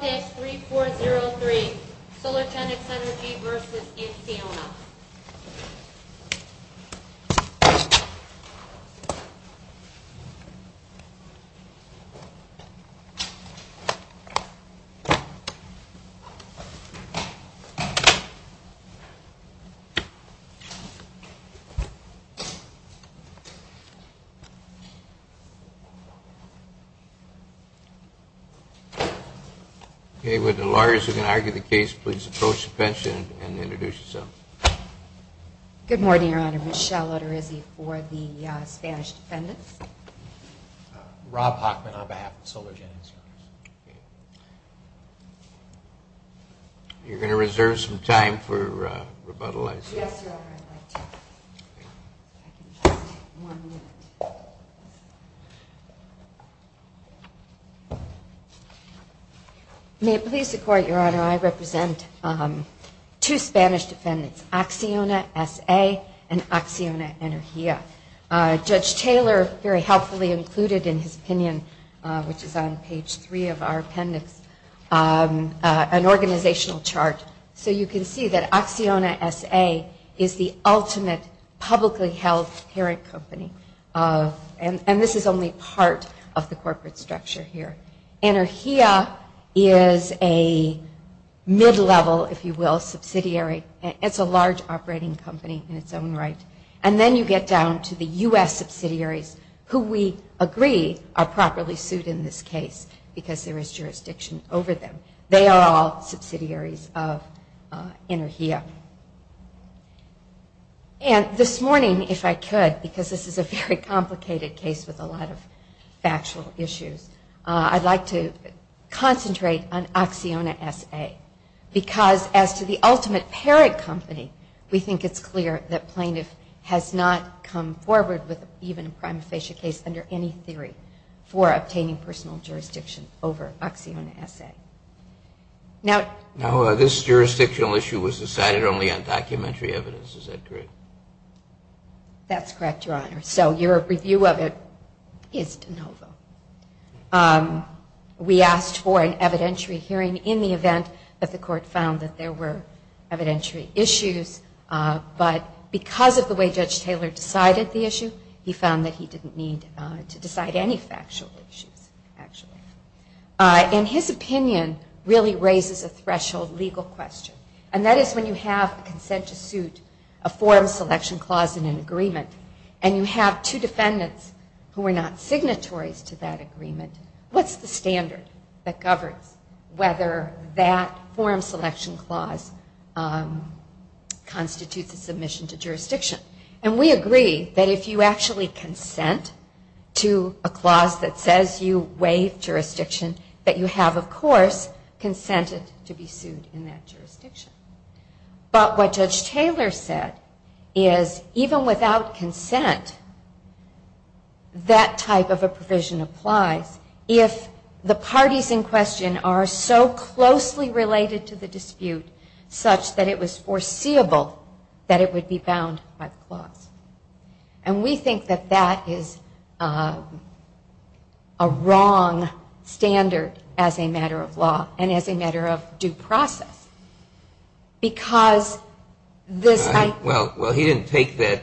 Stage 3-4-0-3 Solargenix Energy v. Acciona With the lawyers who can argue the case, please approach the bench and introduce yourself. Good morning, Your Honor. Michelle Oterizzi for the Spanish Defendants. Rob Hockman on behalf of Solargenix. You're going to reserve some time for rebuttal, I see. Yes, Your Honor, I'd like to. May it please the Court, Your Honor, I represent two Spanish defendants, Acciona S.A. and Acciona Energia. Judge Taylor very helpfully included in his opinion, which is on page 3 of our appendix, an organizational chart. So you can see that Acciona S.A. is the ultimate publicly held parent company. And this is only part of the corporate structure here. Energia is a mid-level, if you will, subsidiary. It's a large operating company in its own right. And then you get down to the U.S. subsidiaries who we agree are properly sued in this case because there is jurisdiction over them. They are all subsidiaries of Energia. And this morning, if I could, because this is a very complicated case with a lot of factual issues, I'd like to concentrate on Acciona S.A. because as to the ultimate parent company, we think it's clear that plaintiff has not come forward with even a prima facie case under any theory for obtaining personal jurisdiction over Acciona S.A. Now this jurisdictional issue was decided only on documentary evidence, is that correct? That's correct, Your Honor. So your review of it is de novo. We asked for an evidentiary hearing in the event that the court found that there were evidentiary issues, but because of the way Judge Taylor decided the issue, he found that he didn't need to decide any factual issues, actually. And his opinion really raises a threshold legal question, and that is when you have consent to suit a forum selection clause in an agreement and you have two defendants who are not signatories to that agreement, what's the standard that governs whether that forum selection clause constitutes a submission to jurisdiction? And we agree that if you actually consent to a clause that says you waive jurisdiction, that you have, of course, consented to be sued in that jurisdiction. But what Judge Taylor said is even without consent, that type of a provision applies if the parties in question are so closely related to the dispute such that it was foreseeable that it would be bound by the clause. And we think that that is a wrong standard as a matter of law and as a matter of due process. Because this I... Well, he didn't take that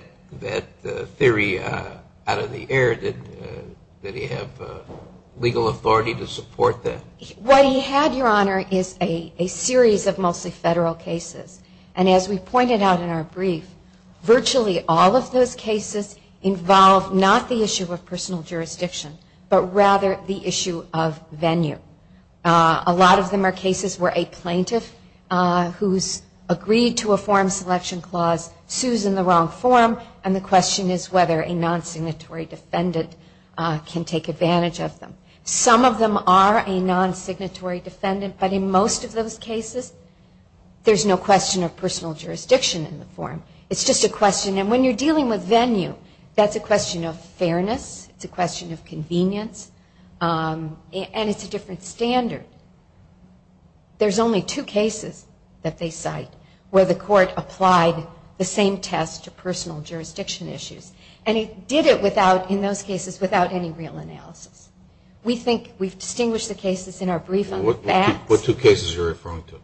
theory out of the air that he have legal authority to support that. What he had, Your Honor, is a series of mostly federal cases. And as we pointed out in our brief, virtually all of those cases involve not the issue of personal jurisdiction, but rather the issue of venue. A lot of them are cases where a plaintiff who's agreed to a forum selection clause sues in the wrong forum and the question is whether a non-signatory defendant can take advantage of them. Some of them are a non-signatory defendant, but in most of those cases, there's no question of personal jurisdiction in the forum. It's just a question, and when you're dealing with venue, that's a question of fairness, it's a question of convenience, and it's a different standard. There's only two cases that they cite where the court applied the same test to personal jurisdiction issues. And it did it without, in those cases, without any real analysis. We think we've distinguished the cases in our brief on the facts. What two cases are you referring to?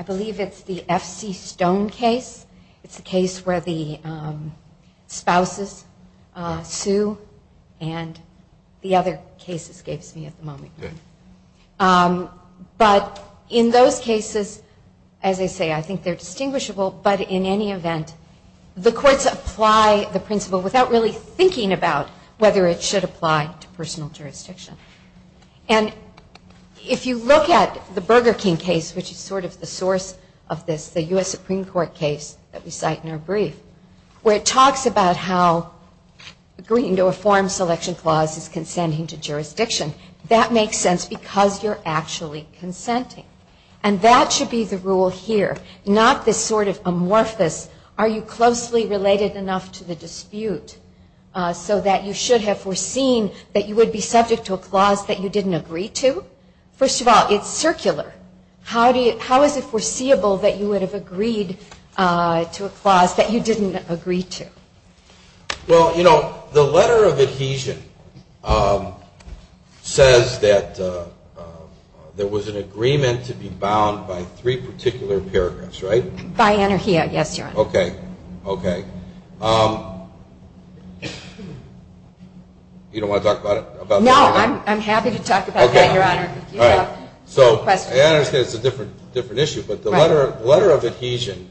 I believe it's the F.C. Stone case, it's a case where the spouses sue, and the other case escapes me at the moment. But in those cases, as I say, I think they're distinguishable, but in any event, the courts apply the principle without really thinking about whether it should apply to personal jurisdiction. And if you look at the Burger King case, which is sort of the source of this, the U.S. Supreme Court case that we cite in our brief, where it talks about how agreeing to a forum selection clause is consenting to jurisdiction, that makes sense because you're actually consenting. And that should be the rule here, not this sort of amorphous, are you closely related enough to the dispute, so that you should have foreseen that you would be subject to a clause that you didn't agree to? First of all, it's circular. How is it foreseeable that you would have agreed to a clause that you didn't agree to? Well, you know, the letter of adhesion says that there was an agreement to be bound by three particular paragraphs, right? By anarchy, yes, Your Honor. You don't want to talk about it? No, I'm happy to talk about that, Your Honor. All right, so I understand it's a different issue, but the letter of adhesion,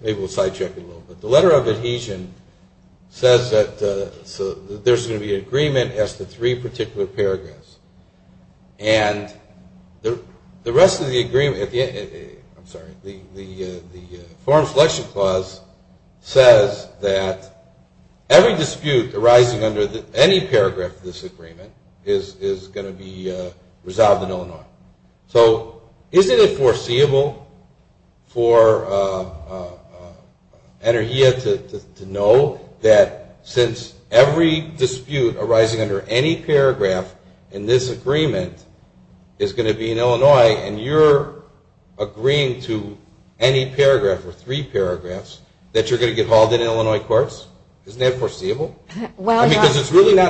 maybe we'll side-check it a little bit, the letter of adhesion says that there's going to be an agreement as to three particular paragraphs. And the rest of the agreement, I'm sorry, the forum selection clause says that every dispute arising under any paragraph of this agreement is going to be resolved in Illinois. So isn't it foreseeable for Energia to know that since every dispute arising under any paragraph in this agreement is going to be in Illinois, and you're agreeing to any paragraph or three paragraphs, that you're going to get hauled into Illinois courts? That's a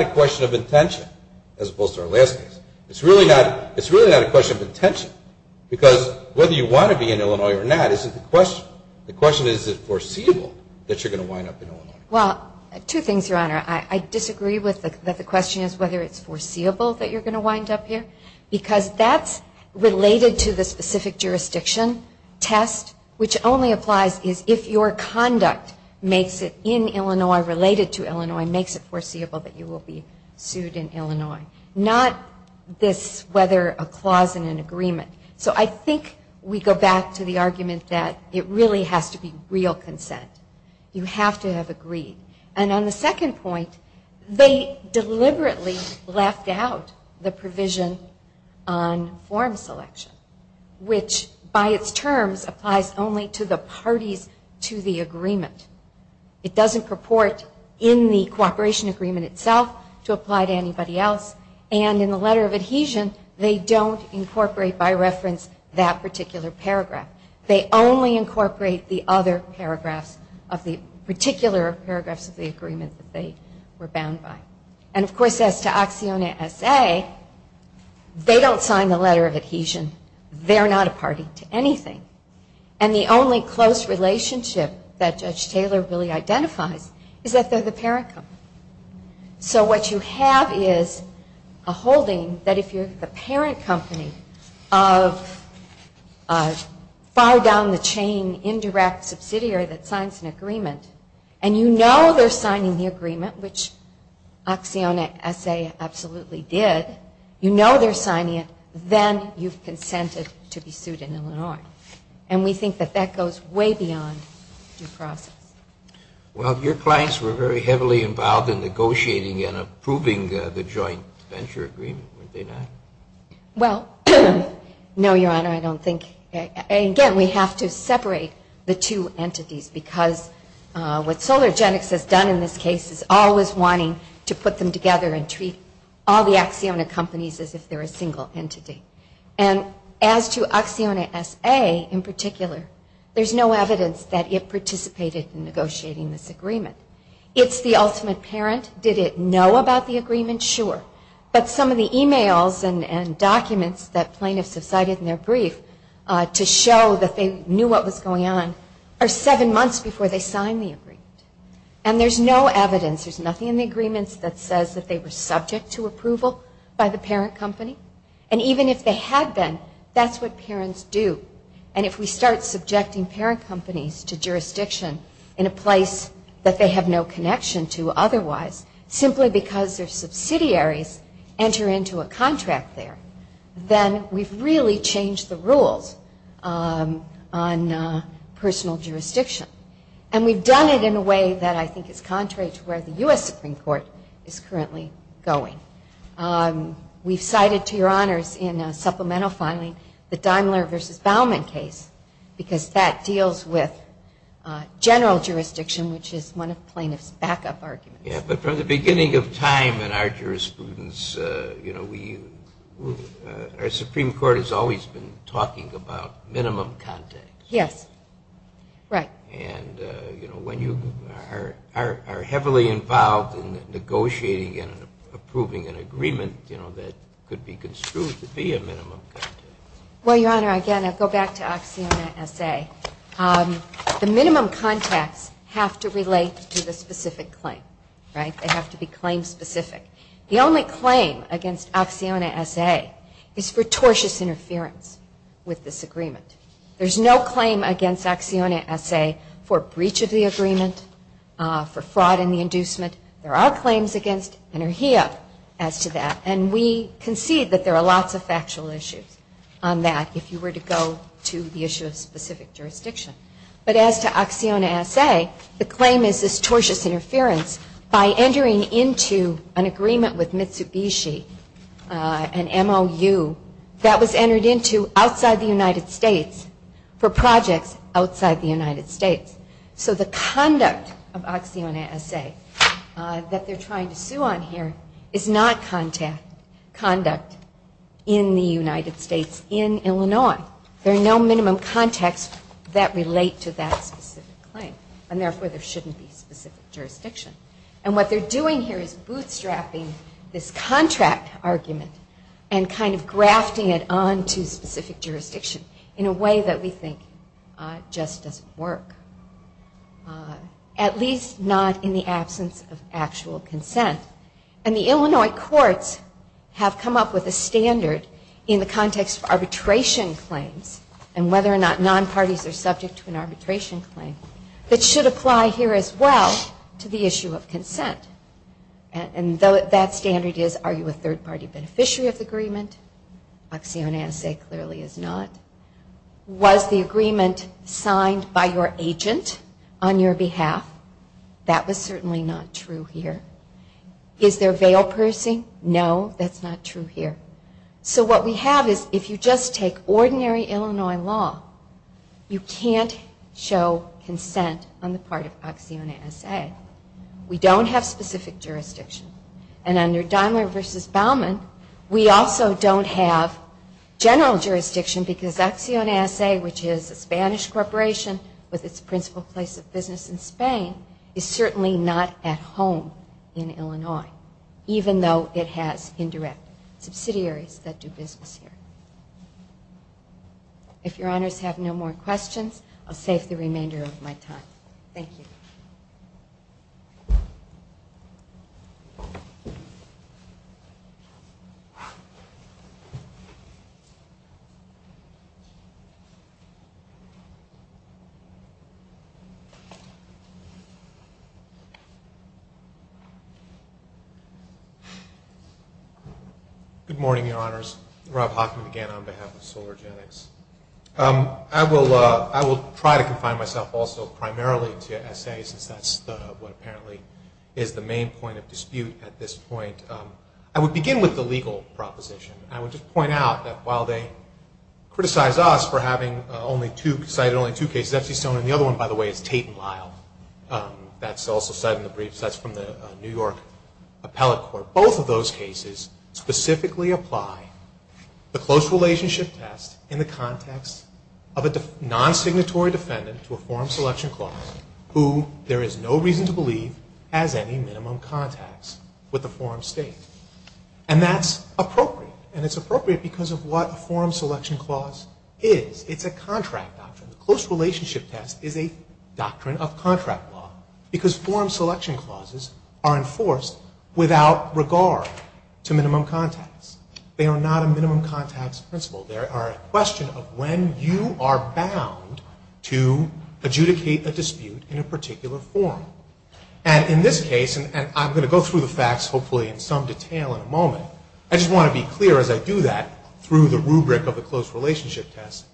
question of intention, as opposed to our last case. It's really not a question of intention, because whether you want to be in Illinois or not is a question. The question is, is it foreseeable that you're going to wind up in Illinois? Well, two things, Your Honor. I disagree that the question is whether it's foreseeable that you're going to wind up here, because that's related to the specific jurisdiction test, which only applies if your conduct makes it in Illinois, related to Illinois, makes it foreseeable that you will be sued in Illinois. Not this whether a clause in an agreement. So I think we go back to the argument that it really has to be real consent. You have to have agreed. And on the second point, they deliberately left out the provision on forum selection, which by its terms applies only to the parties to the agreement. It doesn't purport in the cooperation agreement itself to apply to anybody else. And in the letter of adhesion, they don't incorporate by reference that particular paragraph. They only incorporate the other paragraphs of the particular paragraphs of the agreement that they were bound by. And, of course, as to ACCIONA S.A., they don't sign the letter of adhesion. They're not a party to anything. And the only close relationship that Judge Taylor really identifies is that they're the parent company. So what you have is a holding that if you're the parent company of far down the chain indirect subsidiary that signs an agreement, and you know they're signing the agreement, which ACCIONA S.A. absolutely did, you know they're signing it, then you've consented to be sued in Illinois. And we think that that goes way beyond due process. Well, your clients were very heavily involved in negotiating and approving the joint venture agreement, weren't they not? Well, no, Your Honor, I don't think. Again, we have to separate the two entities because what SolarGenics has done in this case is always wanting to put them together and treat all the ACCIONA companies as if they're a single entity. And as to ACCIONA S.A. in particular, there's no evidence that it participated in negotiating this agreement. It's the ultimate parent. Did it know about the agreement? Sure. But some of the e-mails and documents that plaintiffs have cited in their brief to show that they knew what was going on are seven months before they signed the agreement. And there's no evidence, there's nothing in the agreements that says that they were subject to approval by the parent company. And even if they had been, that's what parents do. And if we start subjecting parent companies to jurisdiction in a place that they have no connection to otherwise, simply because their subsidiaries enter into a contract there, then we've really changed the rules on personal jurisdiction. And we've done it in a way that I think is contrary to where the U.S. Supreme Court is currently going. We've cited to your honors in supplemental filing the Daimler v. Bauman case because that deals with general jurisdiction, which is one of plaintiffs' backup arguments. Yeah, but from the beginning of time in our jurisprudence, you know, our Supreme Court has always been talking about minimum context. Yes, right. And, you know, when you are heavily involved in negotiating and approving an agreement, you know, that could be construed to be a minimum context. Well, your honor, again, I'll go back to ACCIONA S.A. The minimum context have to relate to the specific claim, right? They have to be claim specific. The only claim against ACCIONA S.A. is for tortious interference with this agreement. There's no claim against ACCIONA S.A. for breach of the agreement, for fraud in the inducement. There are claims against NRHEA as to that, and we concede that there are lots of factual issues on that if you were to go to the issue of specific jurisdiction. There is no minimum context that relates to that specific claim, and therefore there shouldn't be specific jurisdiction. And what they're doing here is bootstrapping this contract argument and kind of grafting it on to specific jurisdiction in a way that we think just doesn't work, at least not in the absence of actual consent. And the Illinois courts have come up with a standard in the context of arbitration claims and whether or not non-parties are subject to an issue of consent. And that standard is, are you a third party beneficiary of the agreement? ACCIONA S.A. clearly is not. Was the agreement signed by your agent on your behalf? That was certainly not true here. Is there veil pursing? No, that's not true here. So what we have is if you just take ordinary Illinois law, you can't show consent on the part of ACCIONA S.A. We don't have specific jurisdiction. And under Daimler v. Baumann, we also don't have general jurisdiction because ACCIONA S.A., which is a Spanish corporation with its principal place of business in Spain, is certainly not at home in Illinois, even though it has indirect subsidiaries that do business here. If your honors have no more questions, I'll save the remainder of my time. Thank you. Good morning, your honors. Rob Hockman again on behalf of Solargenics. I will try to confine myself also primarily to S.A. since that's what apparently is most important to me. S.A. is the main point of dispute at this point. I would begin with the legal proposition. I would just point out that while they criticize us for having only two, cited only two cases, Epstein-Stone and the other one, by the way, is Tate and Lyle, that's also cited in the briefs, that's from the New York Appellate Court. Both of those cases specifically apply the close relationship test in the context of a non-signatory defendant to a forum selection clause who there is no reason to believe has any minimum contacts with the forum state. And that's appropriate. And it's appropriate because of what a forum selection clause is. It's a contract doctrine. The close relationship test is a doctrine of contract law. Because forum selection clauses are enforced without regard to minimum contacts. They are not a minimum contacts principle. They are a question of when you are bound to adjudicate a dispute in a particular forum. And in this case, and I'm going to go through the facts hopefully in some detail in a moment, I just want to be clear as I do that through the rubric of the close relationship test,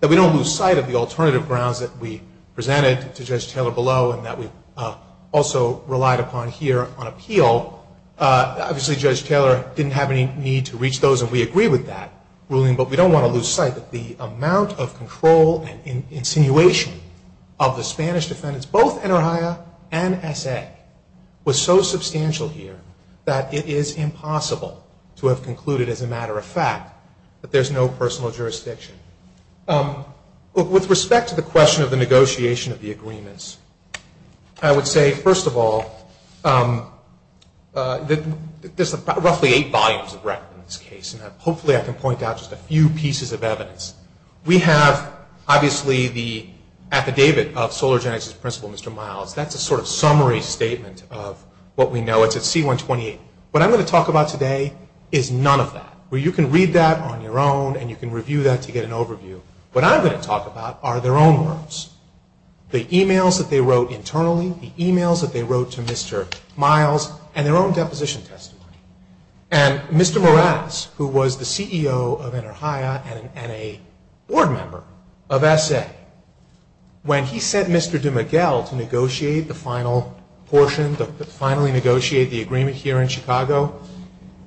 that we don't lose sight of the alternative grounds that we presented to Judge Taylor below Obviously Judge Taylor didn't have any need to reach those and we agree with that ruling, but we don't want to lose sight that the amount of control and insinuation of the Spanish defendants, both Enerja and S.A., was so substantial here that it is impossible to have concluded, as a matter of fact, that there's no personal jurisdiction. With respect to the question of the negotiation of the agreements, I would say first of all, there's roughly eight volumes of records in this case and hopefully I can point out just a few pieces of evidence. We have obviously the affidavit of Solar Genetics' principal, Mr. Miles. That's a sort of summary statement of what we know. It's at C-128. What I'm going to talk about today is none of that. You can read that on your own and you can review that to get an overview. What I'm going to talk about are their own words. The emails that they wrote internally, the emails that they wrote to Mr. Miles, and their own deposition testimony. And Mr. Morales, who was the CEO of Enerja and an N.A. board member of S.A., when he sent Mr. DeMiguel to negotiate the final portion, to finally negotiate the agreement here in Chicago,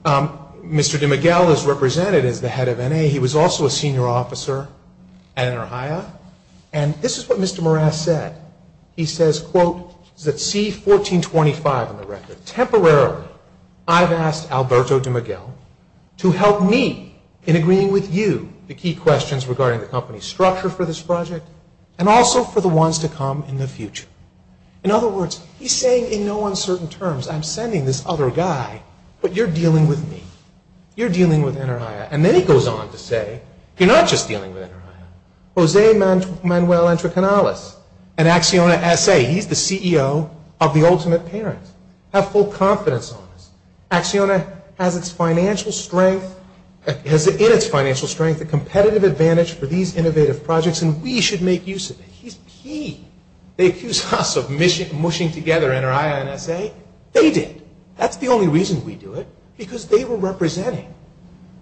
Mr. DeMiguel is represented as the head of N.A. He was also a senior officer at Enerja. And this is what Mr. Morales said. He says, quote, it's at C-1425 on the record. Temporarily, I've asked Alberto DeMiguel to help me in agreeing with you the key questions regarding the company's structure for this project and also for the ones to come in the future. In other words, he's saying in no uncertain terms, I'm sending this other guy, but you're dealing with me. You're dealing with Enerja. And then he goes on to say, you're not just dealing with Enerja. Jose Manuel Entrecanales, an Acciona S.A. He's the CEO of the ultimate parent. Have full confidence on this. Acciona has its financial strength, has in its financial strength, a competitive advantage for these innovative projects and we should make use of it. He's P. They accuse us of mushing together Enerja and S.A. They did. That's the only reason we do it. Because they were representing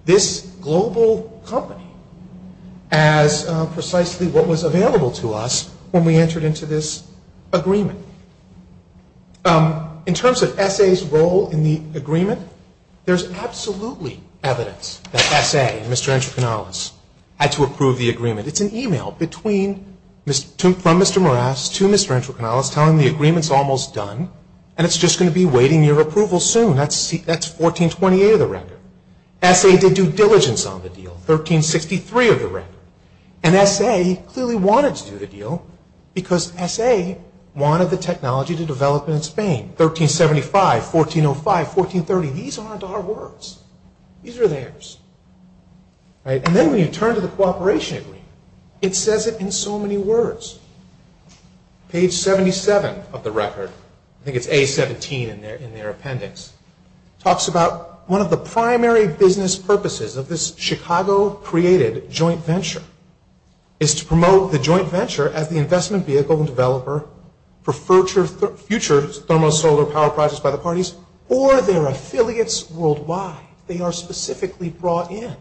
this global company as precisely what was available to us when we entered into this agreement. In terms of S.A.'s role in the agreement, there's absolutely evidence that S.A., Mr. Entrecanales, had to approve the agreement. It's an e-mail from Mr. Morales to Mr. Entrecanales telling him the agreement's almost done and it's just going to be waiting for your approval soon. That's 1428 of the record. S.A. did due diligence on the deal. 1363 of the record. And S.A. clearly wanted to do the deal because S.A. wanted the technology to develop in Spain. 1375, 1405, 1430. These aren't our words. These are theirs. And then when you turn to the cooperation agreement, it says it in so many words. Page 77 of the record, I think it's A17 in their appendix, talks about one of the primary business purposes of this Chicago-created joint venture is to promote the joint venture as the investment vehicle and developer for future thermosolar power projects by the parties or their affiliates worldwide. They are specifically brought in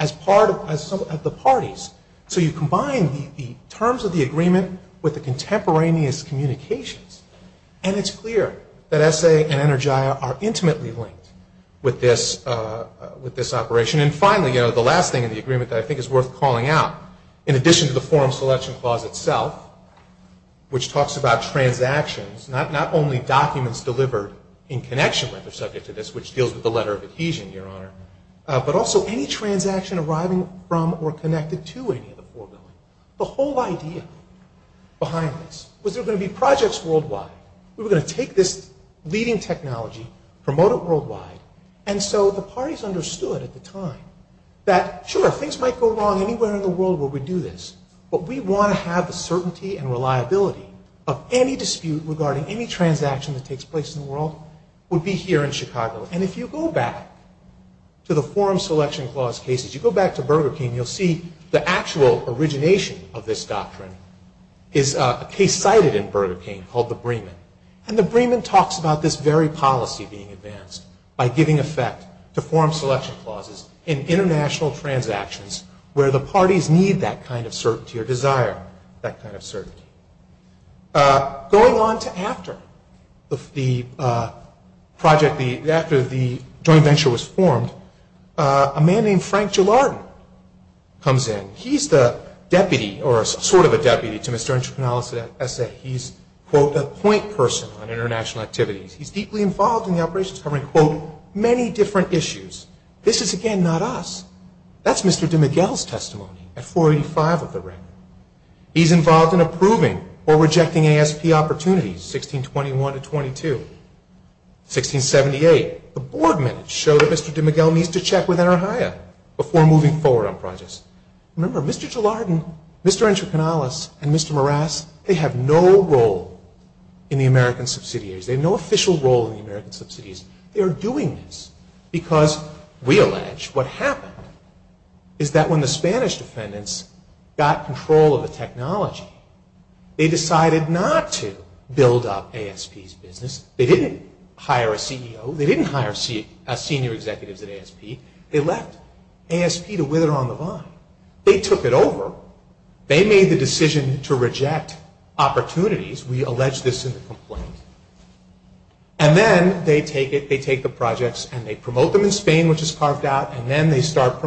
as part of the parties. So you combine the terms of the agreement with the contemporaneous communications and it's clear that S.A. and Energia are intimately linked with this operation. And finally, you know, the last thing in the agreement that I think is worth calling out, in addition to the forum selection clause itself, which talks about transactions, not only documents delivered in connection with or subject to this, which deals with the letter of adhesion, Your Honor, but also any transaction arriving from or connected to any of the four buildings. The whole idea behind this was there were going to be projects worldwide. We were going to take this leading technology, promote it worldwide, and so the parties understood at the time that sure, things might go wrong anywhere in the world where we do this, but we want to have the certainty and reliability of any dispute regarding any transaction that takes place in the world would be here in Chicago. And if you go back to the forum selection clause cases, you go back to Burger King, and you'll see the actual origination of this doctrine is a case cited in Burger King called the Bremen. And the Bremen talks about this very policy being advanced by giving effect to forum selection clauses in international transactions where the parties need that kind of certainty or desire that kind of certainty. Going on to after the project, after the joint venture was formed, a man named Frank Gilardin comes in. He's the deputy, or sort of a deputy, to Mr. Entrepreneurialist at SA. He's, quote, a point person on international activities. He's deeply involved in the operations covering, quote, many different issues. This is, again, not us. That's Mr. DeMiguel's testimony at 485 of the record. He's involved in approving or rejecting ASP opportunities, 1621 to 1622. 1678, the board minutes show that Mr. DeMiguel needs to check with NRHIA before moving forward on projects. Remember, Mr. Gilardin, Mr. Entrepreneurialist, and Mr. Marasse, they have no role in the American subsidiaries. They have no official role in the American subsidiaries. They are doing this because, we allege, what happened is that when the Spanish defendants got control of the technology, they decided not to build up ASP's business. They didn't hire a CEO. They didn't hire senior executives at ASP. They left ASP to wither on the vine. They took it over. They made the decision to reject opportunities. We allege this in the complaint. And then they take it, they take the projects, and they promote them in Spain, which is carved out, and then they start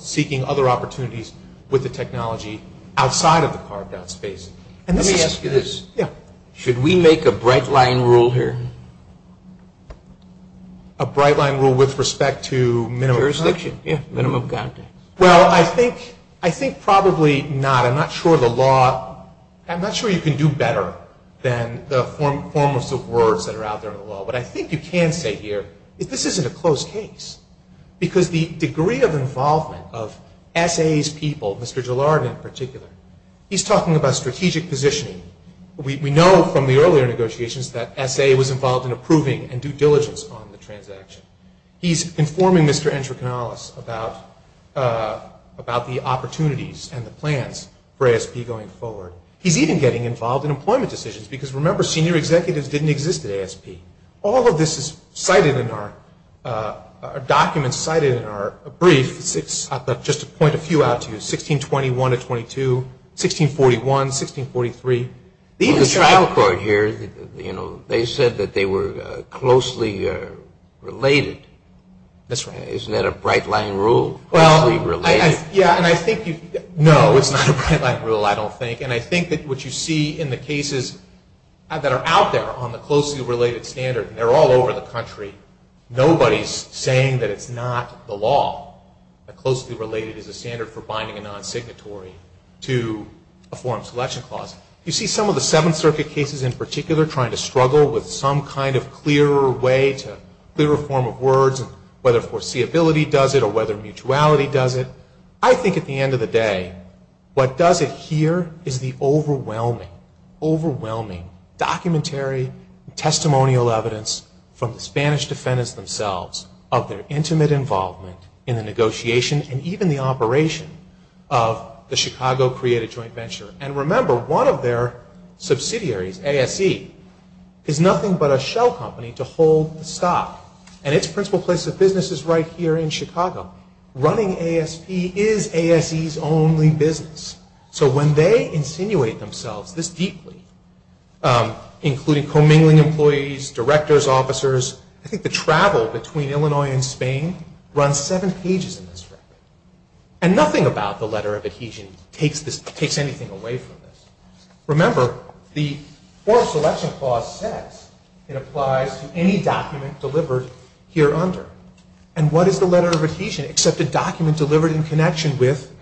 seeking other opportunities with the technology outside of the carved out space. Let me ask you this. Should we make a bright line rule here? A bright line rule with respect to minimum... Jurisdiction. Well, I think probably not. I'm not sure you can do better than the formless of words that are out there in the law. What I think you can say here is this isn't a closed case because the degree of involvement of SA's people, Mr. Gillard in particular, he's talking about strategic positioning. We know from the earlier negotiations that SA was involved in approving and due diligence on the transaction. He's informing Mr. Entrecannales about the opportunities and the plans for ASP going forward. He's even getting involved in employment decisions because, remember, senior executives didn't exist at ASP. All of this is cited in our documents, cited in our briefs. Just to point a few out to you, 1621 to 1622, 1641, 1643. The trial court here, they said that they were closely related. That's right. Isn't that a bright line rule? No, it's not a bright line rule, I don't think. And I think that what you see in the cases that are out there on the closely related standard, and they're all over the country, nobody's saying that it's not the law, that closely related is a standard for binding a non-signatory to a forum selection clause. You see some of the Seventh Circuit cases in particular trying to struggle with some kind of clearer way to a clearer form of words, whether foreseeability does it or whether mutuality does it. I think at the end of the day, what does it here is the overwhelming, overwhelming documentary, testimonial evidence from the Spanish defendants themselves of their intimate involvement in the negotiation and even the operation of the Chicago Created Joint Venture. And remember, one of their subsidiaries, ASC, is nothing but a shell company to hold the stock. And its principal place of business is right here in Chicago, running ASP is ASC's only business. So when they insinuate themselves this deeply, including commingling employees, directors, officers, I think the travel between Illinois and Spain runs seven pages in this record. And nothing about the letter of adhesion takes anything away from this. Remember, the forum selection clause says it applies to any document delivered here under. And what is the letter of adhesion except a document delivered in connection herewith?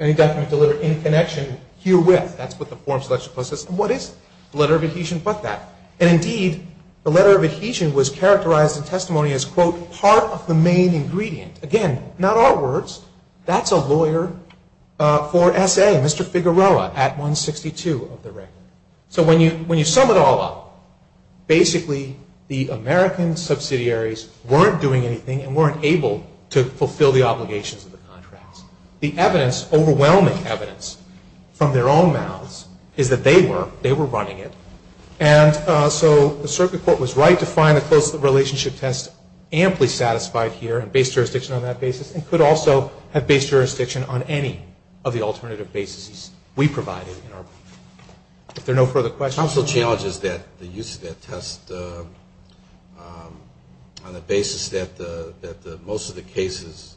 That's what the forum selection clause says. And what is the letter of adhesion but that? And indeed, the letter of adhesion was characterized in testimony as, quote, part of the main ingredient. Again, not our words. That's a lawyer for SA, Mr. Figueroa, at 162 of the record. So when you sum it all up, basically the American subsidiaries weren't doing anything and weren't able to fulfill the obligations of the contracts. The evidence, overwhelming evidence from their own mouths is that they were running it. And so the circuit court was right to find a close relationship test amply satisfied here and base jurisdiction on that basis and could also have base jurisdiction on any of the alternative bases we provided in our brief. If there are no further questions... The challenge is that the use of that test on the basis that most of the cases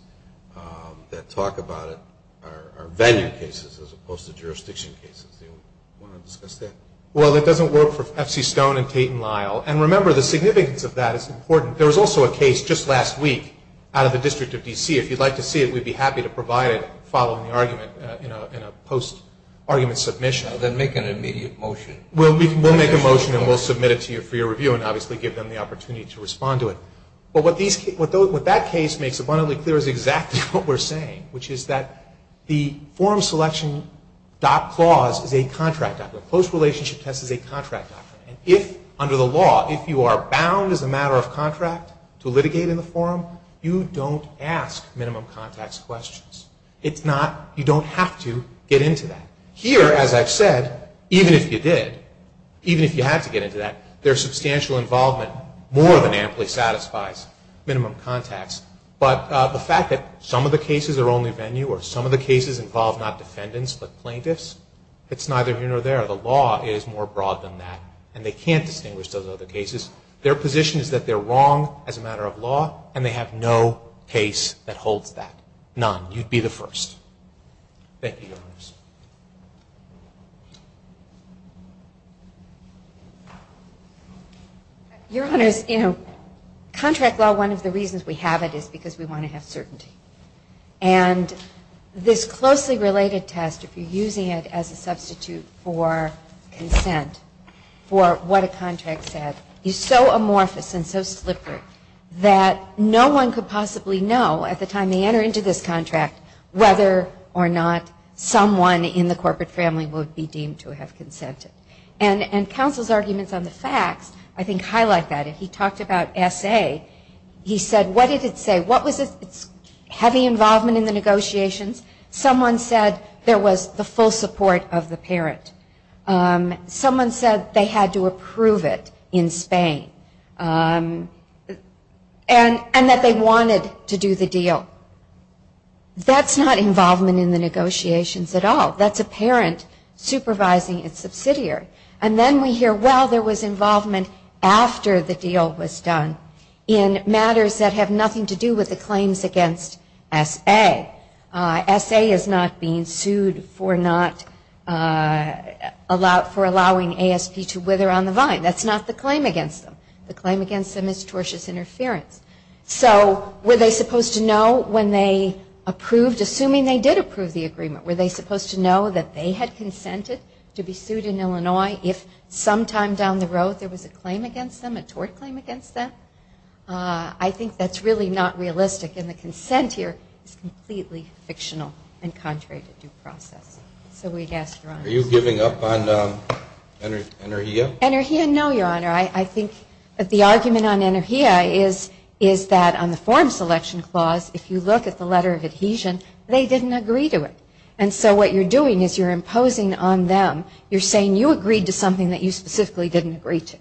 that talk about it are venue cases as opposed to jurisdiction cases. Do you want to discuss that? Well, it doesn't work for F.C. Stone and Tate and Lyle. And remember, the significance of that is important. There was also a case just last week out of the District of D.C. If you'd like to see it, we'd be happy to provide it following the argument in a post-argument submission. Then make an immediate motion. We'll make a motion and we'll submit it to you for your review and obviously give them the opportunity to respond to it. But what that case makes abundantly clear is exactly what we're saying, which is that the forum selection dot clause is a contract doctrine. The close relationship test is a contract doctrine. And if, under the law, if you are bound as a matter of contract to litigate in the forum, you don't ask minimum contacts questions. You don't have to get into that. Here, as I've said, even if you did, even if you had to get into that, their substantial involvement more than amply satisfies minimum contacts. But the fact that some of the cases are only venue or some of the cases involve not defendants but plaintiffs, it's neither here nor there. The law is more broad than that. And they can't distinguish those other cases. Their position is that they're wrong as a matter of law and they have no case that holds that, none. You'd be the first. Thank you, Your Honors. Your Honors, you know, contract law, one of the reasons we have it is because we want to have certainty. And this closely related test, if you're using it as a substitute for consent, for what a contract said, is so amorphous and so slippery that no one could possibly know at the time they enter into this contract whether or not someone in the corporate family would be deemed to have consented. And counsel's arguments on the facts, I think, highlight that. If he talked about SA, he said, what did it say? What was its heavy involvement in the negotiations? Someone said there was the full support of the parent. Someone said they had to approve it in Spain. And that they wanted to do the deal. That's not involvement in the negotiations at all. That's a parent supervising its subsidiary. And then we hear, well, there was involvement after the deal was done in matters that have nothing to do with the claims against SA. SA is not being sued for allowing ASP to wither on the vine. That's not the claim against them. The claim against them is tortious interference. So were they supposed to know when they approved, assuming they did approve the agreement, were they supposed to know that they had consented to be sued in Illinois if sometime down the road there was a claim against them, a tort claim against them? I think that's really not realistic. And the consent here is completely fictional and contrary to due process. So we'd ask your honors. Are you giving up on Energia? Energia, no, your honor. I think that the argument on Energia is that on the form selection clause, if you look at the letter of adhesion, they didn't agree to it. And so what you're doing is you're imposing on them, you're saying you agreed to something that you specifically didn't agree to.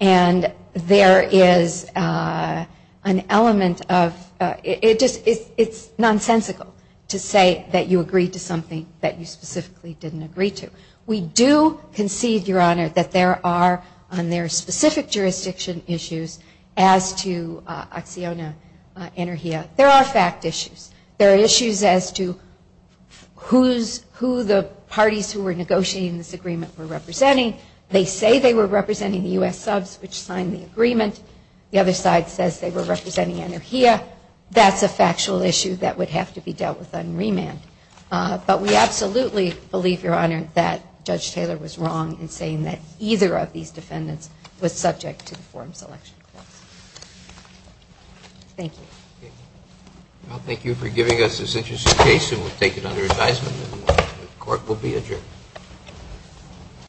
And there is an element of ‑‑ it's nonsensical to say that you agreed to something that you specifically didn't agree to. We do concede, your honor, that there are, on their specific jurisdiction issues as to ACCIONA Energia, there are fact issues. There are issues as to who the parties who were negotiating this agreement were representing. They say they were representing the U.S. subs which signed the agreement. The other side says they were representing Energia. That's a factual issue that would have to be dealt with on remand. But we absolutely believe, your honor, that Judge Taylor was wrong in saying that either of these defendants was subject to the form selection clause. Thank you. Well, thank you for giving us this interesting case and we'll take it under advisement that the court will be adjourned.